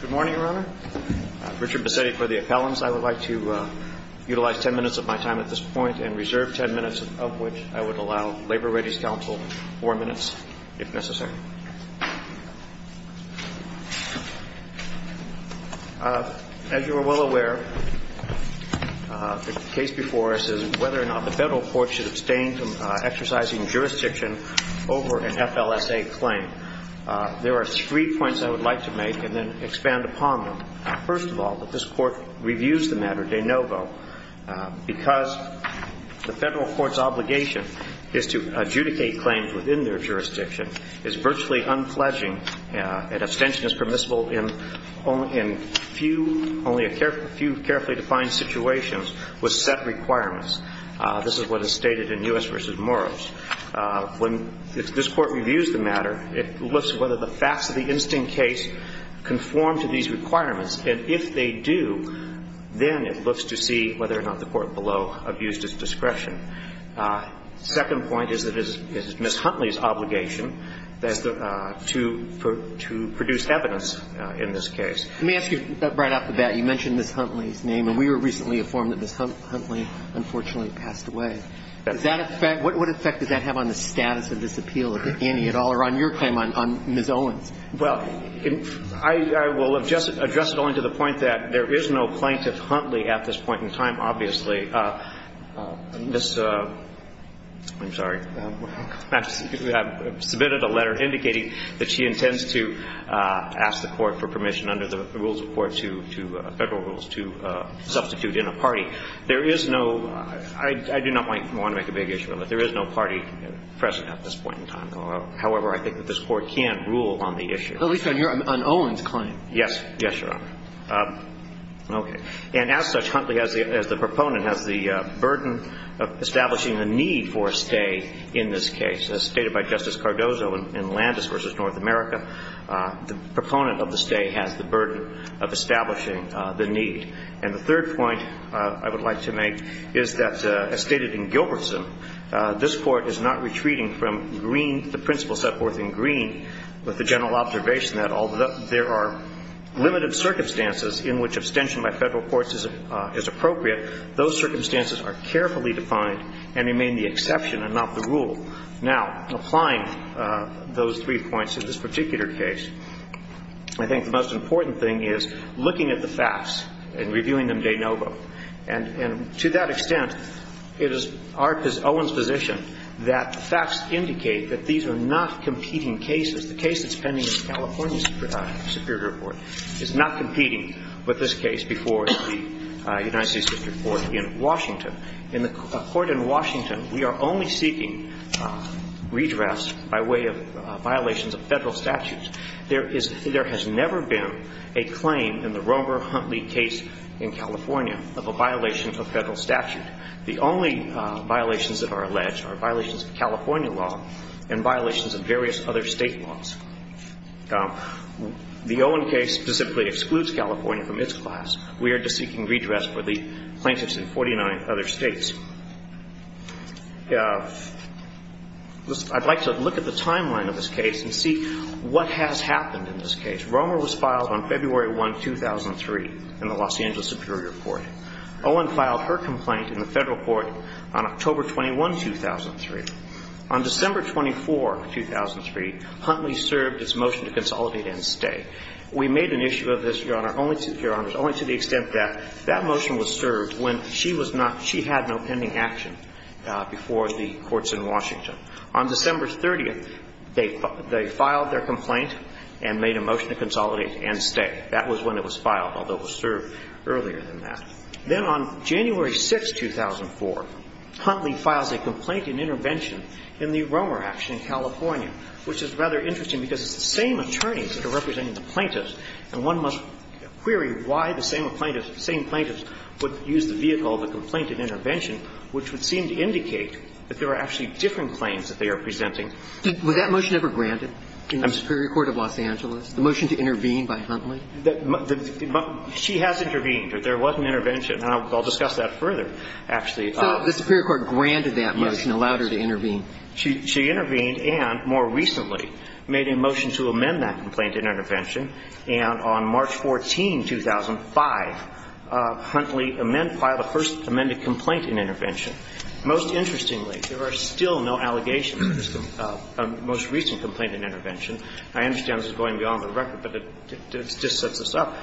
Good morning, Your Honor. Richard Bassetti for the appellants. I would like to utilize ten minutes of my time at this point and reserve ten minutes of which I would allow Labor Rates Council four minutes, if necessary. As you are well aware, the case before us is whether or not the federal courts should abstain from exercising jurisdiction over an FLSA claim. There are three points I would like to make and then expand upon them. First of all, that this Court reviews the matter de novo because the federal court's obligation is to adjudicate claims within their jurisdiction, is virtually unfledging, and abstention is permissible in only a few carefully defined situations with set requirements. This is what is stated in U.S. v. Moros. When this Court reviews the matter, it looks whether the facts of the instant case conform to these requirements. And if they do, then it looks to see whether or not the court below abused its discretion. The second point is that it is Ms. Huntley's obligation to produce evidence in this case. Let me ask you right off the bat. You mentioned Ms. Huntley's name, and we were recently informed that Ms. Huntley unfortunately passed away. Does that affect – what effect does that have on the status of this appeal, Annie, at all, or on your claim on Ms. Owens? Well, I will address it only to the point that there is no plaintiff Huntley at this point in time, obviously. Okay. Ms. – I'm sorry. I've submitted a letter indicating that she intends to ask the Court for permission under the rules of court to – Federal rules to substitute in a party. There is no – I do not want to make a big issue of it. There is no party present at this point in time. However, I think that this Court can rule on the issue. At least on your – on Owens' claim. Yes. Yes, Your Honor. Okay. And as such, Huntley, as the proponent, has the burden of establishing the need for a stay in this case. As stated by Justice Cardozo in Landis v. North America, the proponent of the stay has the burden of establishing the need. And the third point I would like to make is that, as stated in Gilbertson, this Court is not retreating from green – the principle set forth in green with the general observation that although there are limited circumstances in which abstention by Federal courts is appropriate, those circumstances are carefully defined and remain the exception and not the rule. Now, applying those three points in this particular case, I think the most important thing is looking at the facts and reviewing them de novo. And to that extent, it is our – it is Owens' position that the facts indicate that these are not competing cases. The case that's pending in the California Superior Court is not competing with this case before the United States Supreme Court in Washington. In the court in Washington, we are only seeking redress by way of violations of Federal statutes. There is – there has never been a claim in the Romer-Huntley case in California of a violation of a Federal statute. In fact, the only violations that are alleged are violations of California law and violations of various other State laws. The Owen case specifically excludes California from its class. We are just seeking redress for the plaintiffs in 49 other States. I'd like to look at the timeline of this case and see what has happened in this case. Romer was filed on February 1, 2003, in the Los Angeles Superior Court. Owen filed her complaint in the Federal court on October 21, 2003. On December 24, 2003, Huntley served its motion to consolidate and stay. We made an issue of this, Your Honor, only to the extent that that motion was served when she was not – she had no pending action before the courts in Washington. On December 30th, they filed their complaint and made a motion to consolidate and stay. That was when it was filed, although it was served earlier than that. Then on January 6, 2004, Huntley files a complaint and intervention in the Romer action in California, which is rather interesting because it's the same attorneys that are representing the plaintiffs, and one must query why the same plaintiffs would use the vehicle of a complaint and intervention, which would seem to indicate that there are actually different claims that they are presenting. Was that motion ever granted in the Superior Court of Los Angeles, the motion to intervene by Huntley? She has intervened. There was an intervention. I'll discuss that further, actually. So the Superior Court granted that motion, allowed her to intervene. Yes. She intervened and, more recently, made a motion to amend that complaint and intervention. And on March 14, 2005, Huntley filed a first amended complaint and intervention. Most interestingly, there are still no allegations of a most recent complaint and intervention. I understand this is going beyond the record, but it just sets this up.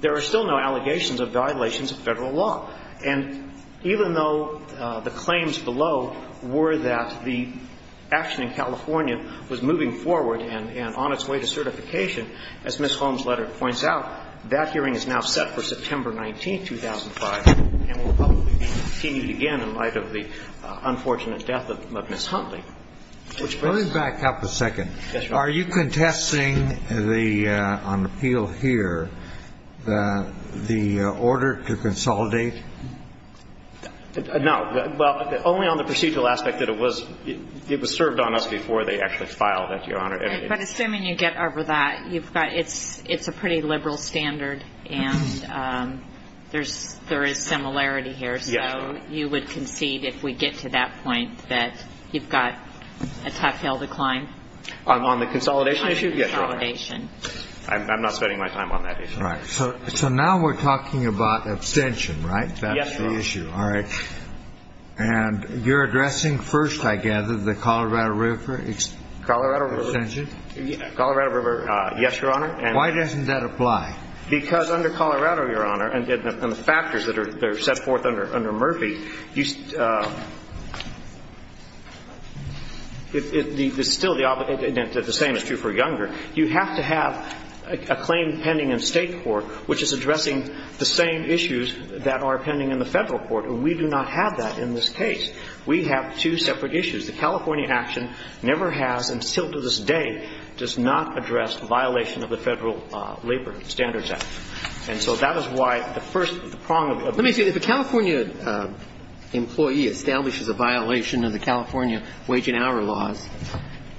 There are still no allegations of violations of Federal law. And even though the claims below were that the action in California was moving forward and on its way to certification, as Ms. Holmes' letter points out, that hearing is now set for September 19, 2005, and will probably be continued again in light of the unfortunate death of Ms. Huntley. Let me back up a second. Yes, Your Honor. Are you contesting the, on appeal here, the order to consolidate? No. Well, only on the procedural aspect that it was served on us before they actually filed it, Your Honor. But assuming you get over that, it's a pretty liberal standard, and there is similarity here. So you would concede, if we get to that point, that you've got a tough hill to climb? On the consolidation issue? Yes, Your Honor. I'm not spending my time on that issue. All right. So now we're talking about abstention, right? Yes, Your Honor. That's the issue. All right. And you're addressing first, I gather, the Colorado River extension? Colorado River, yes, Your Honor. Why doesn't that apply? Because under Colorado, Your Honor, and the factors that are set forth under Murphy, it's still the same is true for Younger. You have to have a claim pending in State court which is addressing the same issues that are pending in the Federal court. We do not have that in this case. We have two separate issues. The California action never has, and still to this day, does not address violation of the Federal Labor Standards Act. And so that is why the first prong of the ---- Let me see. If a California employee establishes a violation of the California Wage and Hour Laws,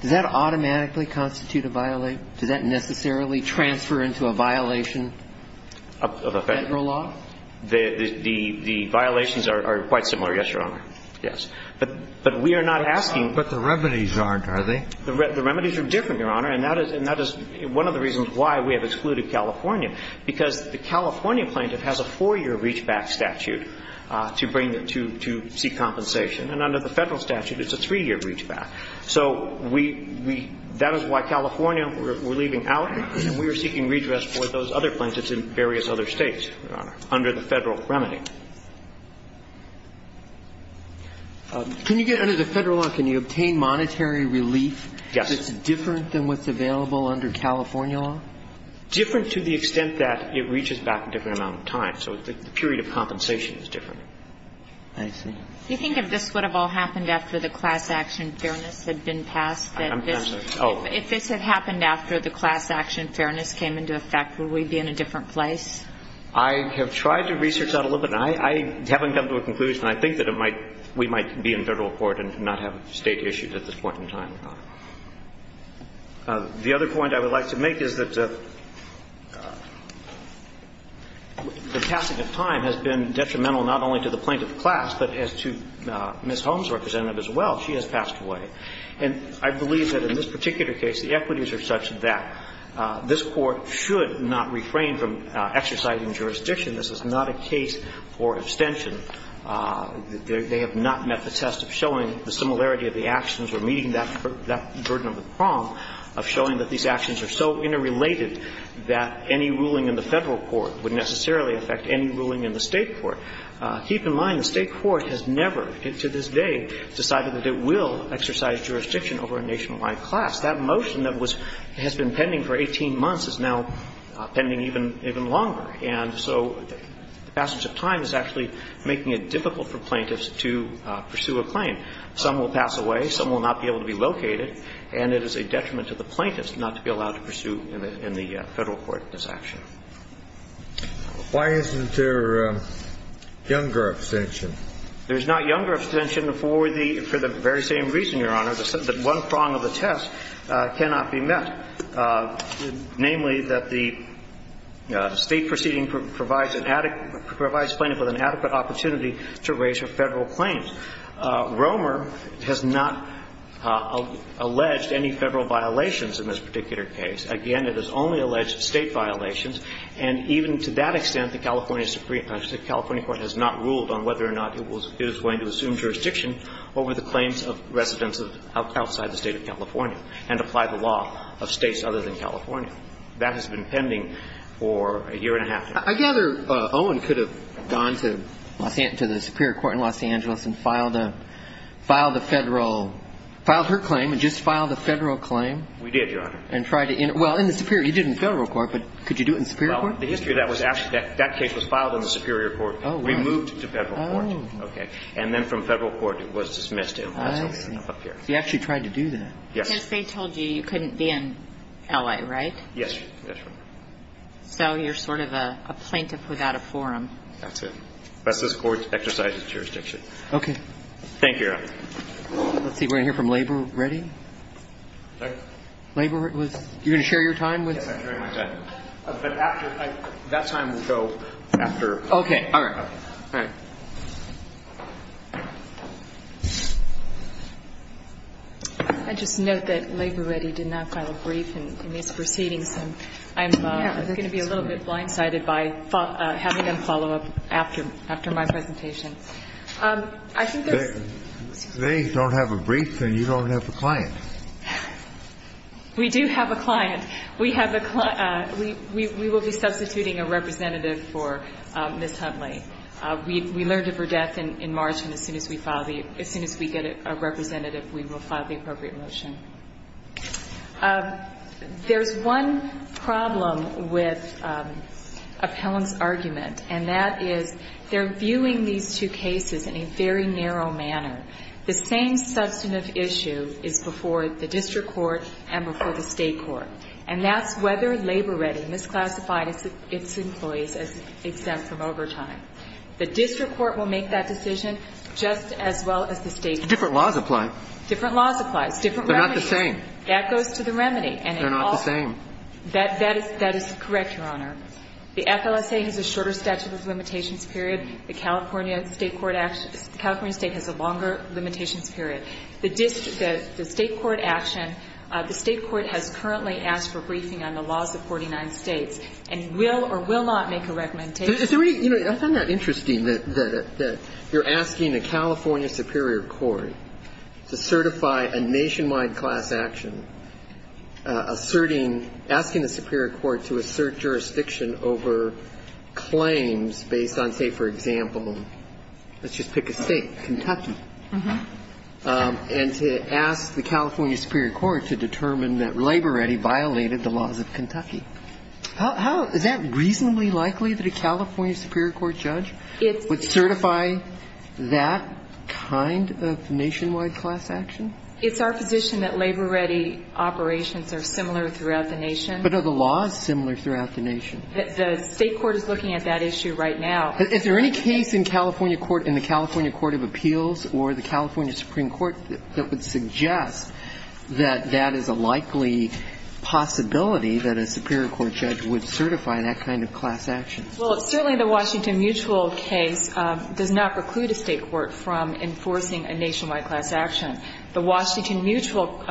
does that automatically constitute a violation? Does that necessarily transfer into a violation of a Federal law? The violations are quite similar, yes, Your Honor. Yes. But we are not asking ---- But the remedies aren't, are they? The remedies are different, Your Honor, and that is one of the reasons why we have excluded California, because the California plaintiff has a four-year reachback statute to bring the two to seek compensation. And under the Federal statute, it's a three-year reachback. So we ---- that is why California, we're leaving out, and we are seeking redress for those other plaintiffs in various other States, Your Honor, under the Federal remedy. Can you get under the Federal law, can you obtain monetary relief? Yes. That's different than what's available under California law? Different to the extent that it reaches back a different amount of time. So the period of compensation is different. I see. Do you think if this would have all happened after the class action fairness had been passed, that this ---- Oh. If this had happened after the class action fairness came into effect, would we be in a different place? I have tried to research that a little bit, and I haven't come to a conclusion. I think that it might ---- we might be in Federal court and not have State issues at this point in time. The other point I would like to make is that the passing of time has been detrimental not only to the plaintiff's class, but as to Ms. Holmes' representative as well. She has passed away. And I believe that in this particular case, the equities are such that this Court should not refrain from exercising jurisdiction. This is not a case for abstention. They have not met the test of showing the similarity of the actions or meeting that burden of the prong of showing that these actions are so interrelated that any ruling in the Federal court would necessarily affect any ruling in the State court. Keep in mind the State court has never, to this day, decided that it will exercise jurisdiction over a nationwide class. That motion that was ---- has been pending for 18 months is now pending even longer. And so the passage of time is actually making it difficult for plaintiffs to pursue a claim. Some will pass away. Some will not be able to be located. And it is a detriment to the plaintiffs not to be allowed to pursue in the Federal court this action. Why isn't there younger abstention? There's not younger abstention for the very same reason, Your Honor, that one prong of the test cannot be met, namely that the State proceeding provides an adequate ---- provides plaintiffs with an adequate opportunity to raise their Federal claims. Romer has not alleged any Federal violations in this particular case. Again, it has only alleged State violations. And even to that extent, the California Supreme ---- the California court has not ruled on whether or not it was going to assume jurisdiction over the claims of residents outside the State of California and apply the law of States other than California. That has been pending for a year and a half. I gather Owen could have gone to Los ---- to the Superior Court in Los Angeles and filed a ---- filed a Federal ---- filed her claim and just filed a Federal claim. We did, Your Honor. And tried to ---- well, in the Superior ---- you did in the Federal court, but could you do it in the Superior court? Well, the history of that was actually ---- that case was filed in the Superior court, removed to Federal court. Oh. Okay. And then from Federal court, it was dismissed in Los Angeles up here. I see. You actually tried to do that. Yes. Because they told you you couldn't be in L.A., right? Yes. That's right. So you're sort of a plaintiff without a forum. That's it. That's this Court's exercise of jurisdiction. Okay. Thank you, Your Honor. Let's see. We're going to hear from Labor. Ready? Labor was ---- you're going to share your time with us? Yes, I'm sharing my time. But after ---- that time will go after. Okay. All right. All right. I just note that Labor Ready did not file a brief in these proceedings. And I'm going to be a little bit blindsided by having them follow up after my presentation. I think there's ---- They don't have a brief and you don't have a client. We do have a client. We have a client. We will be substituting a representative for Ms. Huntley. We learned of her death in March. And as soon as we file the ---- as soon as we get a representative, we will file the appropriate motion. There's one problem with Appellant's argument, and that is they're viewing these two cases in a very narrow manner. The same substantive issue is before the district court and before the state court. And that's whether Labor Ready misclassified its employees as exempt from overtime. The district court will make that decision just as well as the state court. Different laws apply. Different laws apply. It's different remedies. They're not the same. That goes to the remedy. They're not the same. That is correct, Your Honor. The FLSA has a shorter statute of limitations period. The California state court act ---- the California state has a longer limitations period. The district ---- the state court action, the state court has currently asked for briefing on the laws of 49 states and will or will not make a recommendation. So is there any ---- you know, I find that interesting that you're asking a California superior court to certify a nationwide class action, asserting ---- asking the superior court to assert jurisdiction over claims based on, say, for example, let's just pick a state, Kentucky, and to ask the California superior court to determine that Labor Ready violated the laws of Kentucky. Is that reasonably likely that a California superior court judge would certify that kind of nationwide class action? It's our position that Labor Ready operations are similar throughout the nation. But are the laws similar throughout the nation? The state court is looking at that issue right now. Is there any case in California court, in the California court of appeals or the California superior court judge would certify that kind of class action? Well, certainly the Washington Mutual case does not preclude a state court from enforcing a nationwide class action. The Washington Mutual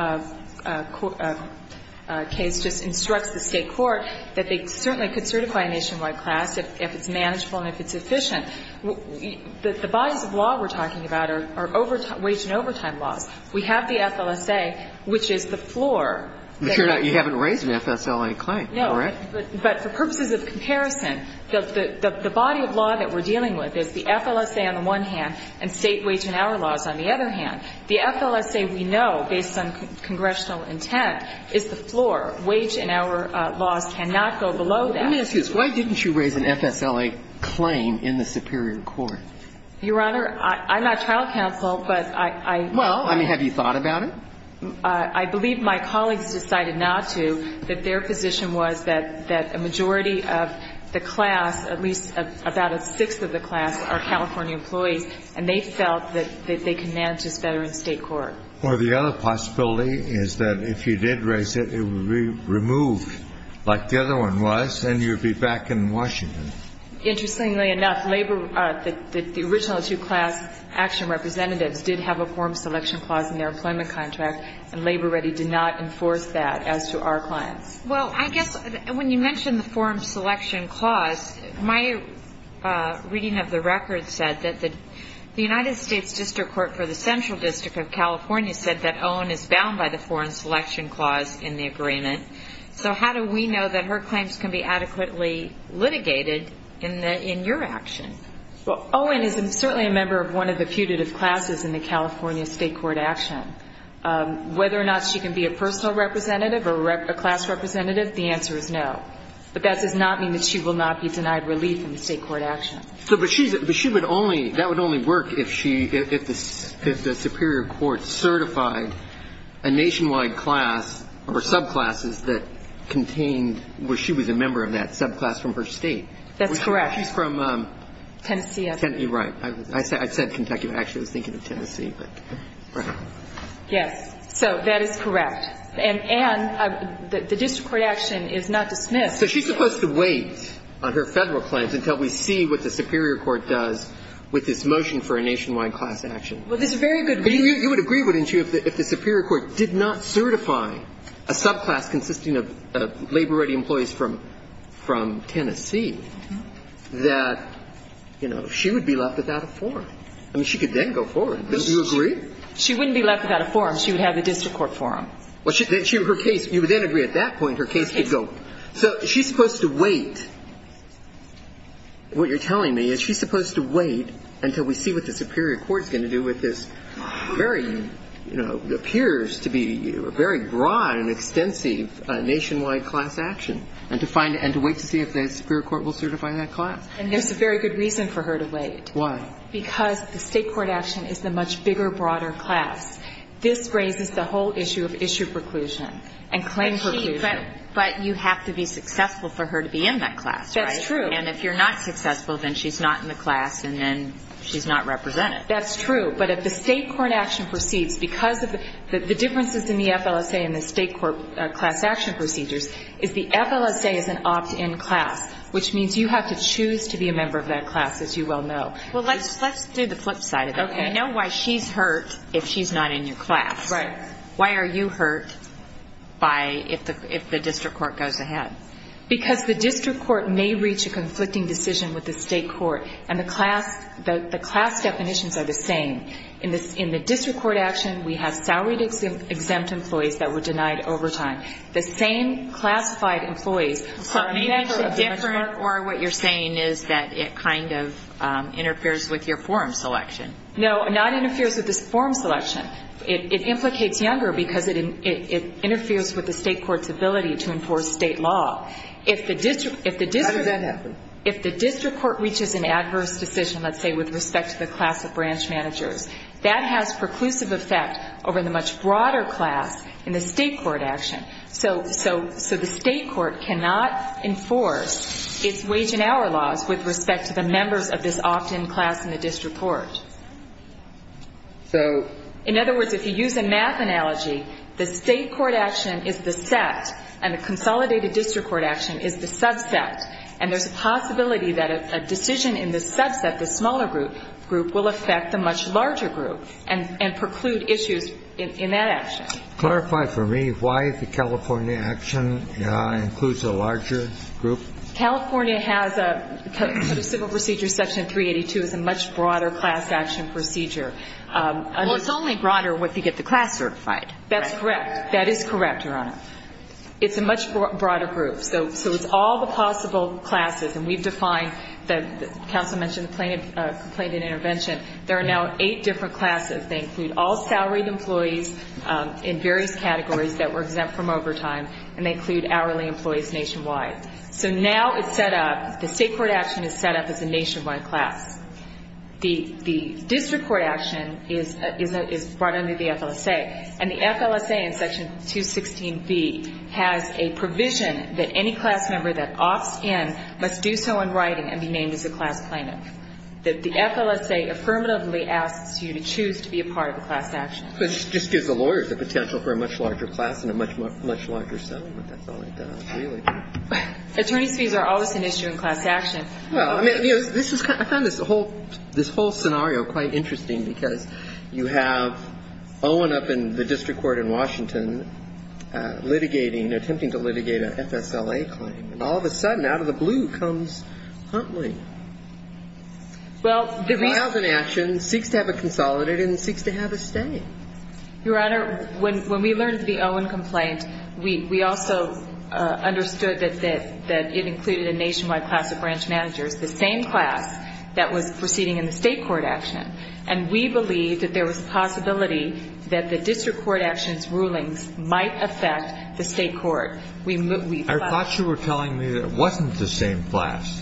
case just instructs the state court that they certainly could certify a nationwide class if it's manageable and if it's efficient. The bodies of law we're talking about are overtime ---- wage and overtime laws. We have the FLSA, which is the floor. But you're not ---- you haven't raised an FSLA claim. Correct? No. But for purposes of comparison, the body of law that we're dealing with is the FLSA on the one hand and state wage and hour laws on the other hand. The FLSA we know, based on congressional intent, is the floor. Wage and hour laws cannot go below that. Let me ask you this. Why didn't you raise an FSLA claim in the superior court? Your Honor, I'm not trial counsel, but I ---- Well, I mean, have you thought about it? I believe my colleagues decided not to, that their position was that a majority of the class, at least about a sixth of the class, are California employees, and they felt that they could manage this better in state court. Well, the other possibility is that if you did raise it, it would be removed like the other one was, and you'd be back in Washington. Interestingly enough, labor ---- the original two class action representatives did have a forum selection clause in their employment contract, and Labor Ready did not enforce that as to our clients. Well, I guess when you mention the forum selection clause, my reading of the record said that the United States District Court for the Central District of California said that Owen is bound by the forum selection clause in the agreement. So how do we know that her claims can be adequately litigated in your action? Well, Owen is certainly a member of one of the putative classes in the California state court action. Whether or not she can be a personal representative or a class representative, the answer is no. But that does not mean that she will not be denied relief in the state court action. But she would only ---- that would only work if she ---- if the superior court certified a nationwide class or subclasses that contained where she was a member of that subclass from her state. That's correct. She's from Tennessee. Right. I said Kentucky. I actually was thinking of Tennessee. Yes. So that is correct. And the district court action is not dismissed. So she's supposed to wait on her Federal claims until we see what the superior court does with this motion for a nationwide class action. Well, there's a very good reason. You would agree, wouldn't you, if the superior court did not certify a subclass consisting of labor-ready employees from Tennessee, that, you know, she would be left without a forum. I mean, she could then go forward. Don't you agree? She wouldn't be left without a forum. She would have the district court forum. Well, her case ---- you would then agree at that point her case could go. So she's supposed to wait. And to wait to see if the superior court will certify that class. And there's a very good reason for her to wait. Why? Because the state court action is the much bigger, broader class. This raises the whole issue of issue preclusion and claim preclusion. But you have to be successful for her to be in that class, right? That's true. And if you're not successful, then she's not in the class and then she's not represented. That's true. But if the state court action proceeds because of the differences in the FLSA and the state court class action procedures, is the FLSA is an opt-in class, which means you have to choose to be a member of that class, as you well know. Well, let's do the flip side of that. Okay. I know why she's hurt if she's not in your class. Right. Why are you hurt if the district court goes ahead? Because the district court may reach a conflicting decision with the state court. And the class definitions are the same. In the district court action, we have salaried exempt employees that were denied overtime. The same classified employees. Or what you're saying is that it kind of interferes with your forum selection. No, not interferes with the forum selection. It implicates younger because it interferes with the state court's ability to enforce state law. If the district court reaches an adverse decision, let's say, with respect to the class of branch managers, that has preclusive effect over the much broader class in the state court action. So the state court cannot enforce its wage and hour laws with respect to the members of this opt-in class in the district court. So in other words, if you use a math analogy, the state court action is the set and the consolidated district court action is the subset. And there's a possibility that a decision in the subset, the smaller group, will affect the much larger group and preclude issues in that action. Clarify for me why the California action includes a larger group. California has a civil procedure section 382 is a much broader class action procedure. Well, it's only broader once you get the class certified. That's correct. That is correct, Your Honor. It's a much broader group. So it's all the possible classes. And we've defined, the counsel mentioned the complaint and intervention. There are now eight different classes. They include all salaried employees in various categories that were exempt from overtime, and they include hourly employees nationwide. So now it's set up, the state court action is set up as a nationwide class. The district court action is brought under the FLSA. And the FLSA in section 216B has a provision that any class member that opts in must do so in writing and be named as a class plaintiff. The FLSA affirmatively asks you to choose to be a part of a class action. But it just gives the lawyers the potential for a much larger class and a much, much larger settlement. That's all it does, really. Attorney's fees are always an issue in class action. Well, I mean, this is kind of the whole, this whole scenario, quite interesting because you have Owen up in the district court in Washington litigating, attempting to litigate an FSLA claim. And all of a sudden, out of the blue comes Huntley. Well, the reason he filed an action, seeks to have it consolidated and seeks to have it stay. Your Honor, when we learned of the Owen complaint, we also understood that it included a nationwide class of branch managers, the same class that was proceeding in the state court action. And we believed that there was a possibility that the district court action's rulings might affect the state court. I thought you were telling me that it wasn't the same class.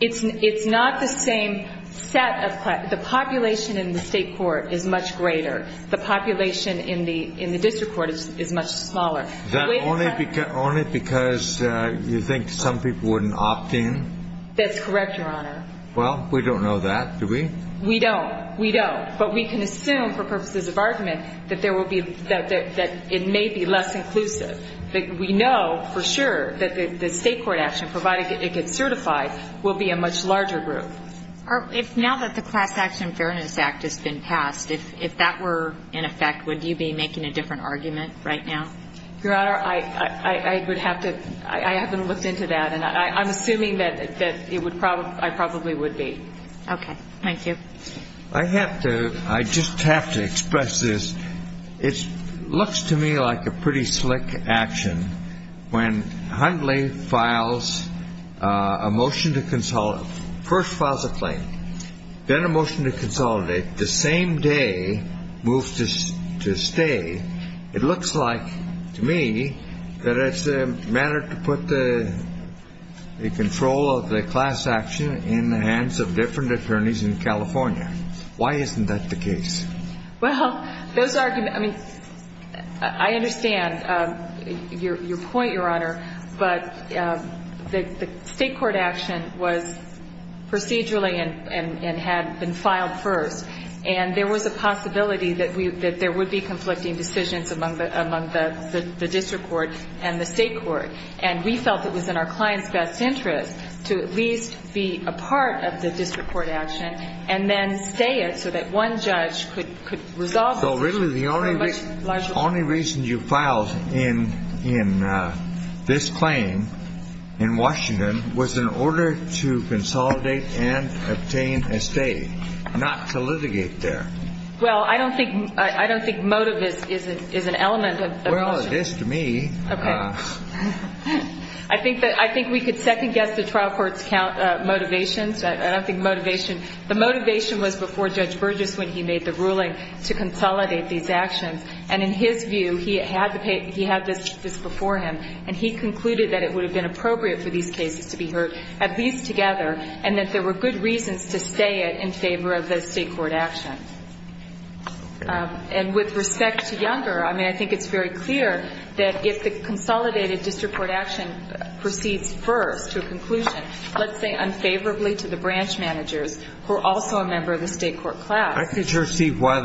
It's not the same set of class. The population in the state court is much greater. The population in the district court is much smaller. Is that only because you think some people wouldn't opt in? That's correct, Your Honor. Well, we don't know that, do we? We don't. We don't. But we can assume, for purposes of argument, that it may be less inclusive. We know for sure that the state court action, provided it gets certified, will be a much larger group. Now that the Class Action Fairness Act has been passed, if that were in effect, would you be making a different argument right now? Your Honor, I haven't looked into that. And I'm assuming that I probably would be. Okay. Thank you. I just have to express this. It looks to me like a pretty slick action. When Hundley files a motion to consolidate, first files a claim, then a motion to consolidate, the same day moves to stay, it looks like to me that it's a matter to put the control of the class action in the hands of different attorneys in California. Why isn't that the case? Well, those arguments, I mean, I understand your point, Your Honor, but the state court action was procedurally and had been filed first. And there was a possibility that there would be conflicting decisions among the district court and the state court. And we felt it was in our client's best interest to at least be a part of the district court action and then stay it so that one judge could resolve it. So really the only reason you filed in this claim in Washington was in order to consolidate and obtain a stay, not to litigate there. Well, I don't think motive is an element of the motion. Well, it is to me. I think we could second guess the trial court's motivations. I don't think motivation. The motivation was before Judge Burgess when he made the ruling to consolidate these actions. And in his view, he had this before him, and he concluded that it would have been appropriate for these cases to be heard at least together and that there were good reasons to stay it in favor of the state court action. And with respect to Younger, I mean, I think it's very clear that if the consolidated district court action proceeds first to a conclusion, let's say unfavorably to the branch managers who are also a member of the state court class. I could sure see why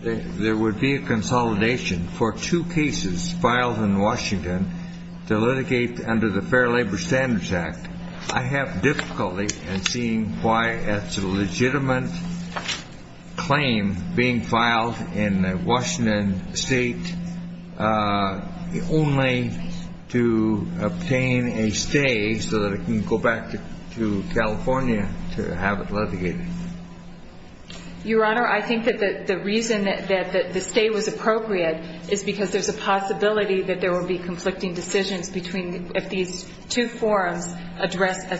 there would be a consolidation for two cases filed in Washington to litigate under the Fair Labor Standards Act. I have difficulty in seeing why it's a legitimate claim being filed in a Washington state only to obtain a stay so that it can go back to California to have it litigated. Your Honor, I think that the reason that the stay was appropriate is because there's a possibility that there will be conflicting decisions if these two forums address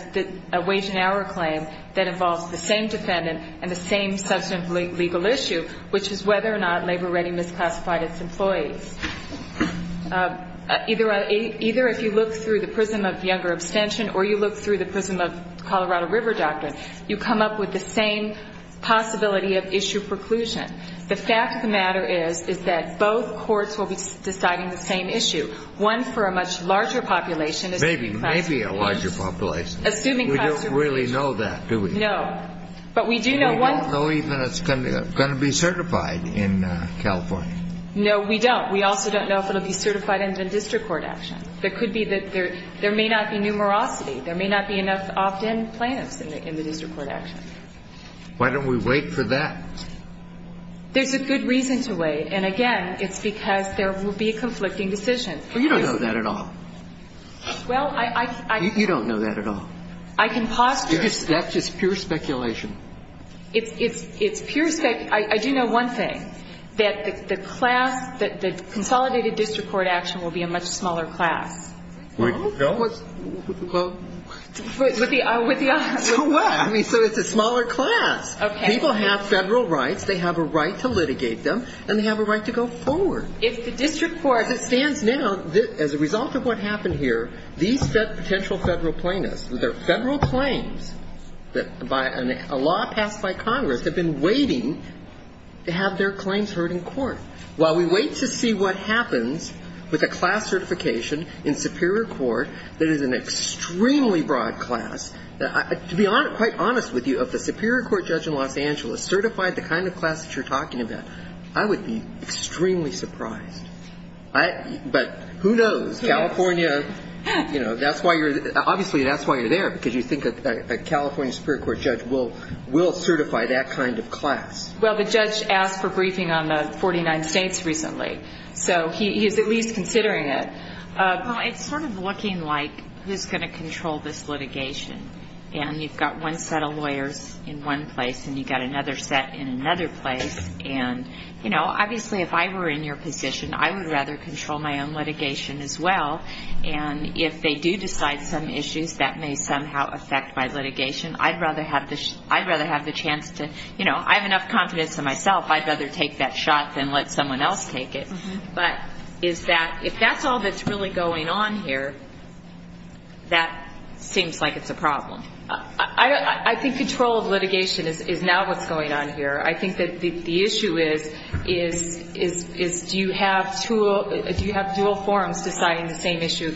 a wage and hour claim that involves the same defendant and the same substantive legal issue, which is whether or not Labor Ready misclassified its employees. Either if you look through the prism of Younger abstention or you look through the prism of Colorado River doctrine, you come up with the same possibility of issue preclusion. The fact of the matter is, is that both courts will be deciding the same issue. One for a much larger population. Maybe a larger population. We don't really know that, do we? No. We don't know even if it's going to be certified in California. No, we don't. We also don't know if it will be certified in the district court action. There may not be numerosity. There may not be enough opt-in plaintiffs in the district court action. Why don't we wait for that? There's a good reason to wait. And, again, it's because there will be conflicting decisions. Well, you don't know that at all. Well, I can't. You don't know that at all. I can posture. That's just pure speculation. It's pure speculation. I do know one thing, that the class, that the consolidated district court action will be a much smaller class. No. With the other. So what? I mean, so it's a smaller class. Okay. People have federal rights. They have a right to litigate them, and they have a right to go forward. If the district court. As it stands now, as a result of what happened here, these potential federal plaintiffs, their federal claims that by a law passed by Congress have been waiting to have their claims heard in court. While we wait to see what happens with a class certification in superior court that is an extremely broad class, to be quite honest with you, if the superior court judge in Los Angeles certified the kind of class that you're talking about, I would be extremely surprised. But who knows? California, you know, that's why you're. Obviously, that's why you're there, because you think a California superior court judge will certify that kind of class. Well, the judge asked for briefing on the 49 states recently, so he's at least considering it. Well, it's sort of looking like who's going to control this litigation. And you've got one set of lawyers in one place, and you've got another set in another place. And, you know, obviously if I were in your position, I would rather control my own litigation as well. And if they do decide some issues that may somehow affect my litigation, I'd rather have the chance to, you know, I have enough confidence in myself, I'd rather take that shot than let someone else take it. But is that, if that's all that's really going on here, that seems like it's a problem. I think control of litigation is now what's going on here. I think that the issue is do you have dual forums deciding the same issue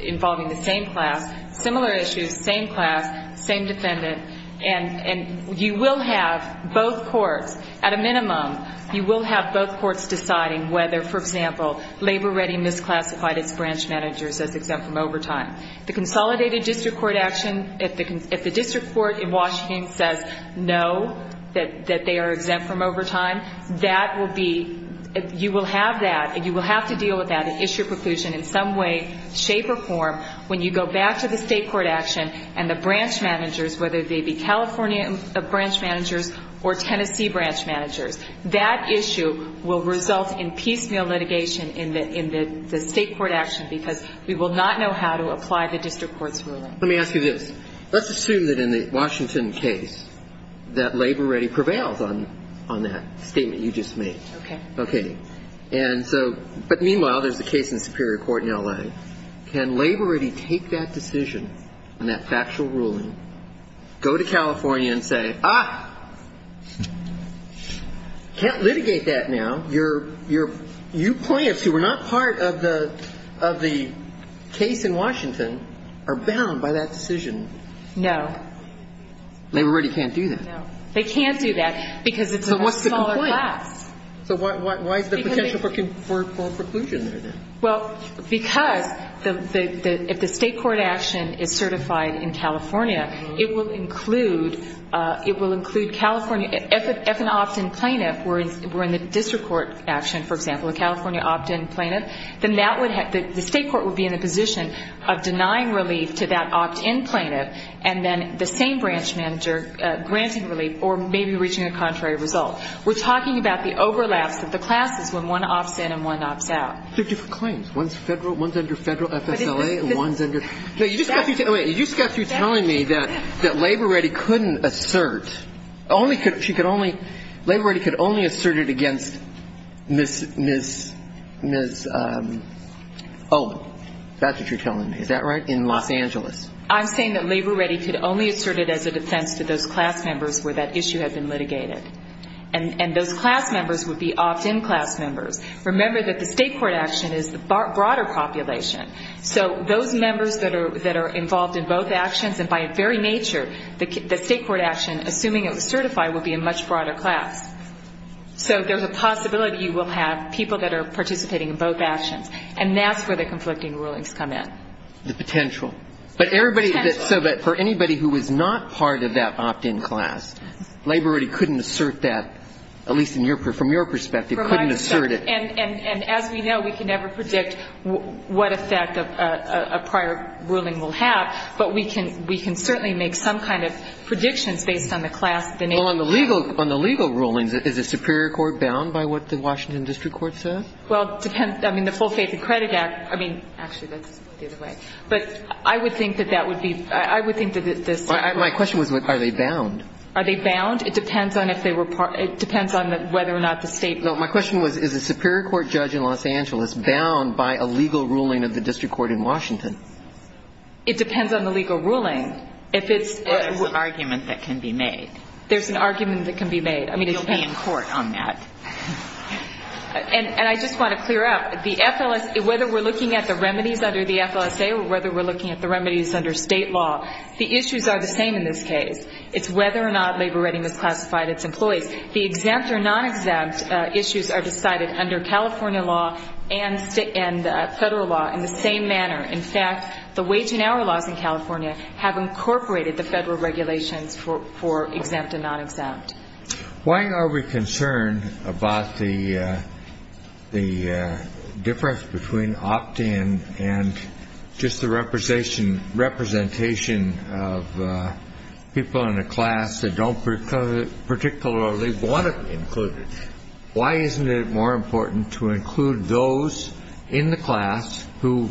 involving the same class, similar issues, same class, same defendant. And you will have both courts, at a minimum, you will have both courts deciding whether, for example, labor-ready misclassified as branch managers as exempt from overtime. The consolidated district court action, if the district court in Washington says no, that they are exempt from overtime, that will be, you will have that, you will have to deal with that and issue a preclusion in some way, shape, or form when you go back to the state court action and the branch managers, whether they be California branch managers or Tennessee branch managers, that issue will result in piecemeal litigation in the state court action because we will not know how to apply the district court's ruling. Let me ask you this. Let's assume that in the Washington case that labor-ready prevails on that statement you just made. Okay. Okay. And so, but meanwhile, there's a case in the Superior Court in L.A. Can labor-ready take that decision and that factual ruling, go to California and say, ah, can't litigate that now. You're, you're, you plaintiffs who were not part of the, of the case in Washington are bound by that decision. No. Labor-ready can't do that. No. They can't do that because it's a much smaller class. So what's the complaint? So why, why, why is there potential for preclusion there then? Well, because the, the, if the state court action is certified in California, it will include, it will include California, if an opt-in plaintiff were in the district court action, for example, a California opt-in plaintiff, then that would have, the state court would be in a position of denying relief to that opt-in plaintiff and then the same branch manager granting relief or maybe reaching a contrary result. We're talking about the overlaps of the classes when one opts in and one opts out. There are different claims. One's federal, one's under federal FSLA and one's under. No, you just got through, wait, you just got through telling me that, that labor-ready couldn't assert, only could, she could only, labor-ready could only assert it against Ms., Ms., Ms. Oh, that's what you're telling me. Is that right? In Los Angeles. I'm saying that labor-ready could only assert it as a defense to those class members where that issue had been litigated. And, and those class members would be opt-in class members. Remember that the state court action is the broader population. So those members that are, that are involved in both actions and by a very nature, the state court action, assuming it was certified, would be a much broader class. So there's a possibility you will have people that are participating in both actions. And that's where the conflicting rulings come in. The potential. The potential. But everybody, so that for anybody who was not part of that opt-in class, labor-ready couldn't assert that, at least in your, from your perspective, couldn't assert it. And, and, and as we know, we can never predict what effect a prior ruling will have. But we can, we can certainly make some kind of predictions based on the class. Well, on the legal, on the legal rulings, is a superior court bound by what the Washington District Court said? Well, it depends. I mean, the Full Faith and Credit Act, I mean, actually, that's the other way. But I would think that that would be, I would think that this. My question was, are they bound? Are they bound? It depends on if they were, it depends on whether or not the state. No, my question was, is a superior court judge in Los Angeles bound by a legal ruling of the district court in Washington? It depends on the legal ruling. If it's. There's an argument that can be made. There's an argument that can be made. You'll be in court on that. And, and I just want to clear up, the FLSA, whether we're looking at the remedies under the FLSA or whether we're looking at the remedies under state law, the issues are the same in this case. It's whether or not labor-ready misclassified its employees. The exempt or non-exempt issues are decided under California law and federal law in the same manner. In fact, the wage and hour laws in California have incorporated the federal regulations for exempt and non-exempt. Why are we concerned about the difference between opt-in and just the representation of people in a class that don't particularly want to be included? Why isn't it more important to include those in the class who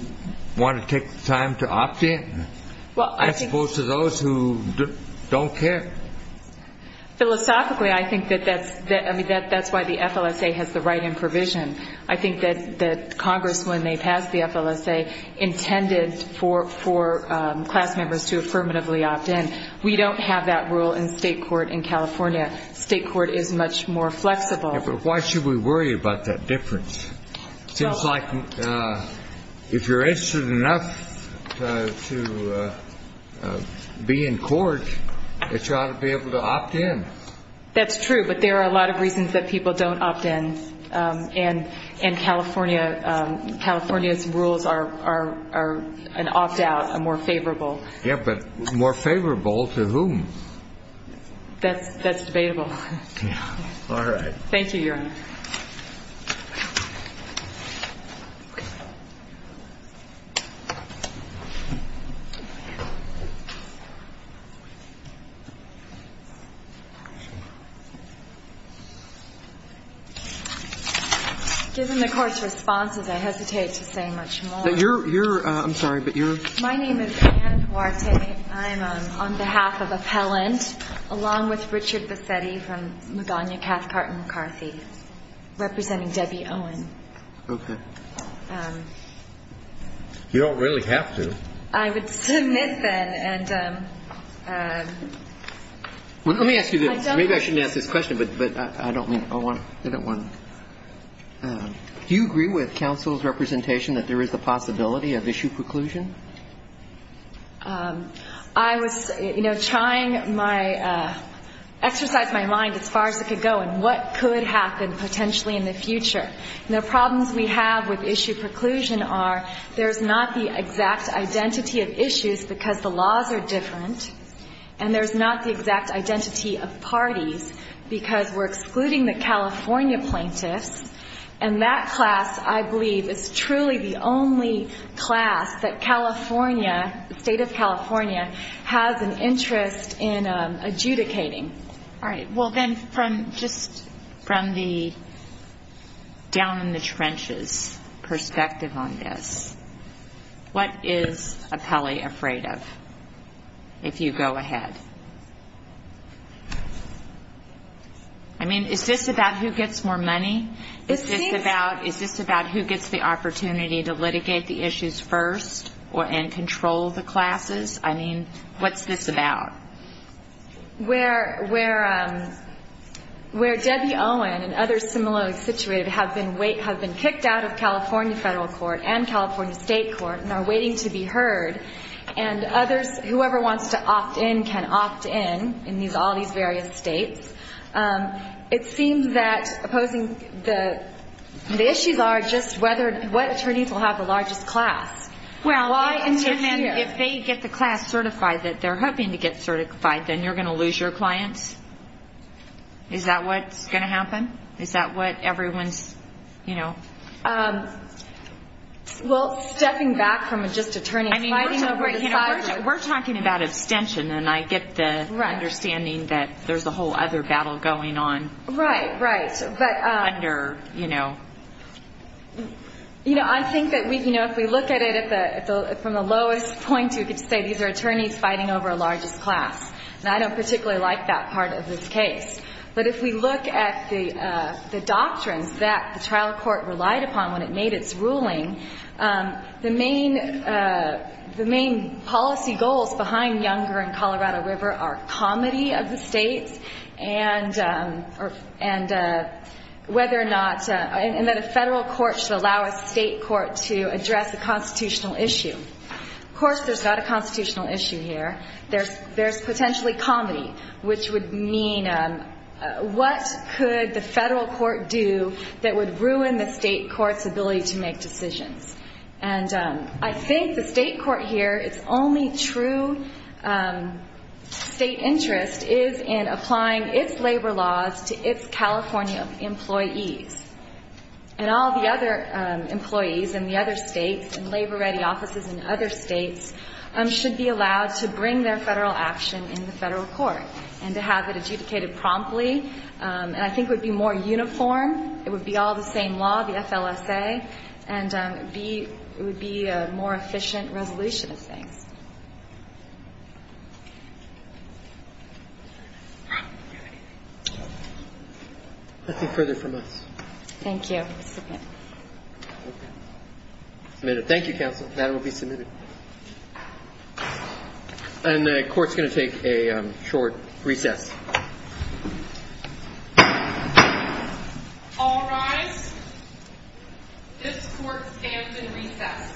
want to take the time to opt-in as opposed to those who don't care? Philosophically, I think that that's, I mean, that's why the FLSA has the write-in provision. I think that Congress, when they passed the FLSA, intended for class members to affirmatively opt-in. We don't have that rule in state court in California. State court is much more flexible. Yeah, but why should we worry about that difference? It seems like if you're interested enough to be in court, that you ought to be able to opt-in. That's true, but there are a lot of reasons that people don't opt-in. And California's rules are an opt-out, a more favorable. Yeah, but more favorable to whom? That's debatable. All right. Thank you, Your Honor. Given the Court's responses, I hesitate to say much more. You're, I'm sorry, but you're? My name is Ann Huarte. I'm on behalf of Appellant, along with Richard Bassetti from Magana Cathcart and McCarthy, representing Debbie Owen. Okay. You don't really have to. I would submit, then, and I don't want to. Let me ask you this. Maybe I shouldn't ask this question, but I don't want to. Do you agree with counsel's representation that there is the possibility of issue preclusion? I was, you know, trying my, exercise my mind as far as it could go, and what could happen potentially in the future. And the problems we have with issue preclusion are there's not the exact identity of issues because the laws are different, and there's not the exact identity of parties because we're excluding the California plaintiffs, and that class, I believe, is truly the only class that California, the State of California, has an interest in adjudicating. All right. Well, then, from just, from the down-in-the-trenches perspective on this, what is Appellee afraid of if you go ahead? I mean, is this about who gets more money? Is this about who gets the opportunity to litigate the issues first and control the classes? I mean, what's this about? Where Debbie Owen and others similarly situated have been kicked out of California federal court and California state court and are waiting to be heard, and others, whoever wants to opt-in can opt-in in all these various states. It seems that opposing, the issues are just whether, what attorneys will have the largest class. Well, and if they get the class certified that they're hoping to get certified, then you're going to lose your clients? Is that what's going to happen? Is that what everyone's, you know? Well, stepping back from just attorneys fighting over the size of the- We're talking about abstention, and I get the understanding that there's a whole other battle going on. Right, right. Under, you know. You know, I think that if we look at it from the lowest point, you could say these are attorneys fighting over a largest class. And I don't particularly like that part of this case. But if we look at the doctrines that the trial court relied upon when it made its ruling, the main policy goals behind Younger and Colorado River are comedy of the states, and whether or not, and that a federal court should allow a state court to address a constitutional issue. Of course, there's not a constitutional issue here. There's potentially comedy, which would mean what could the federal court do that would ruin the state court's ability to make decisions? And I think the state court here, its only true state interest is in applying its labor laws to its California employees. And all the other employees in the other states and labor-ready offices in other states should be allowed to bring their federal action in the federal court and to have it adjudicated promptly. And I think it would be more uniform. It would be all the same law, the FLSA. And it would be a more efficient resolution of things. Nothing further from us. Thank you. Submit. Submitted. Thank you, counsel. That will be submitted. And the court's going to take a short recess. All rise. This court stands in recess. Thank you.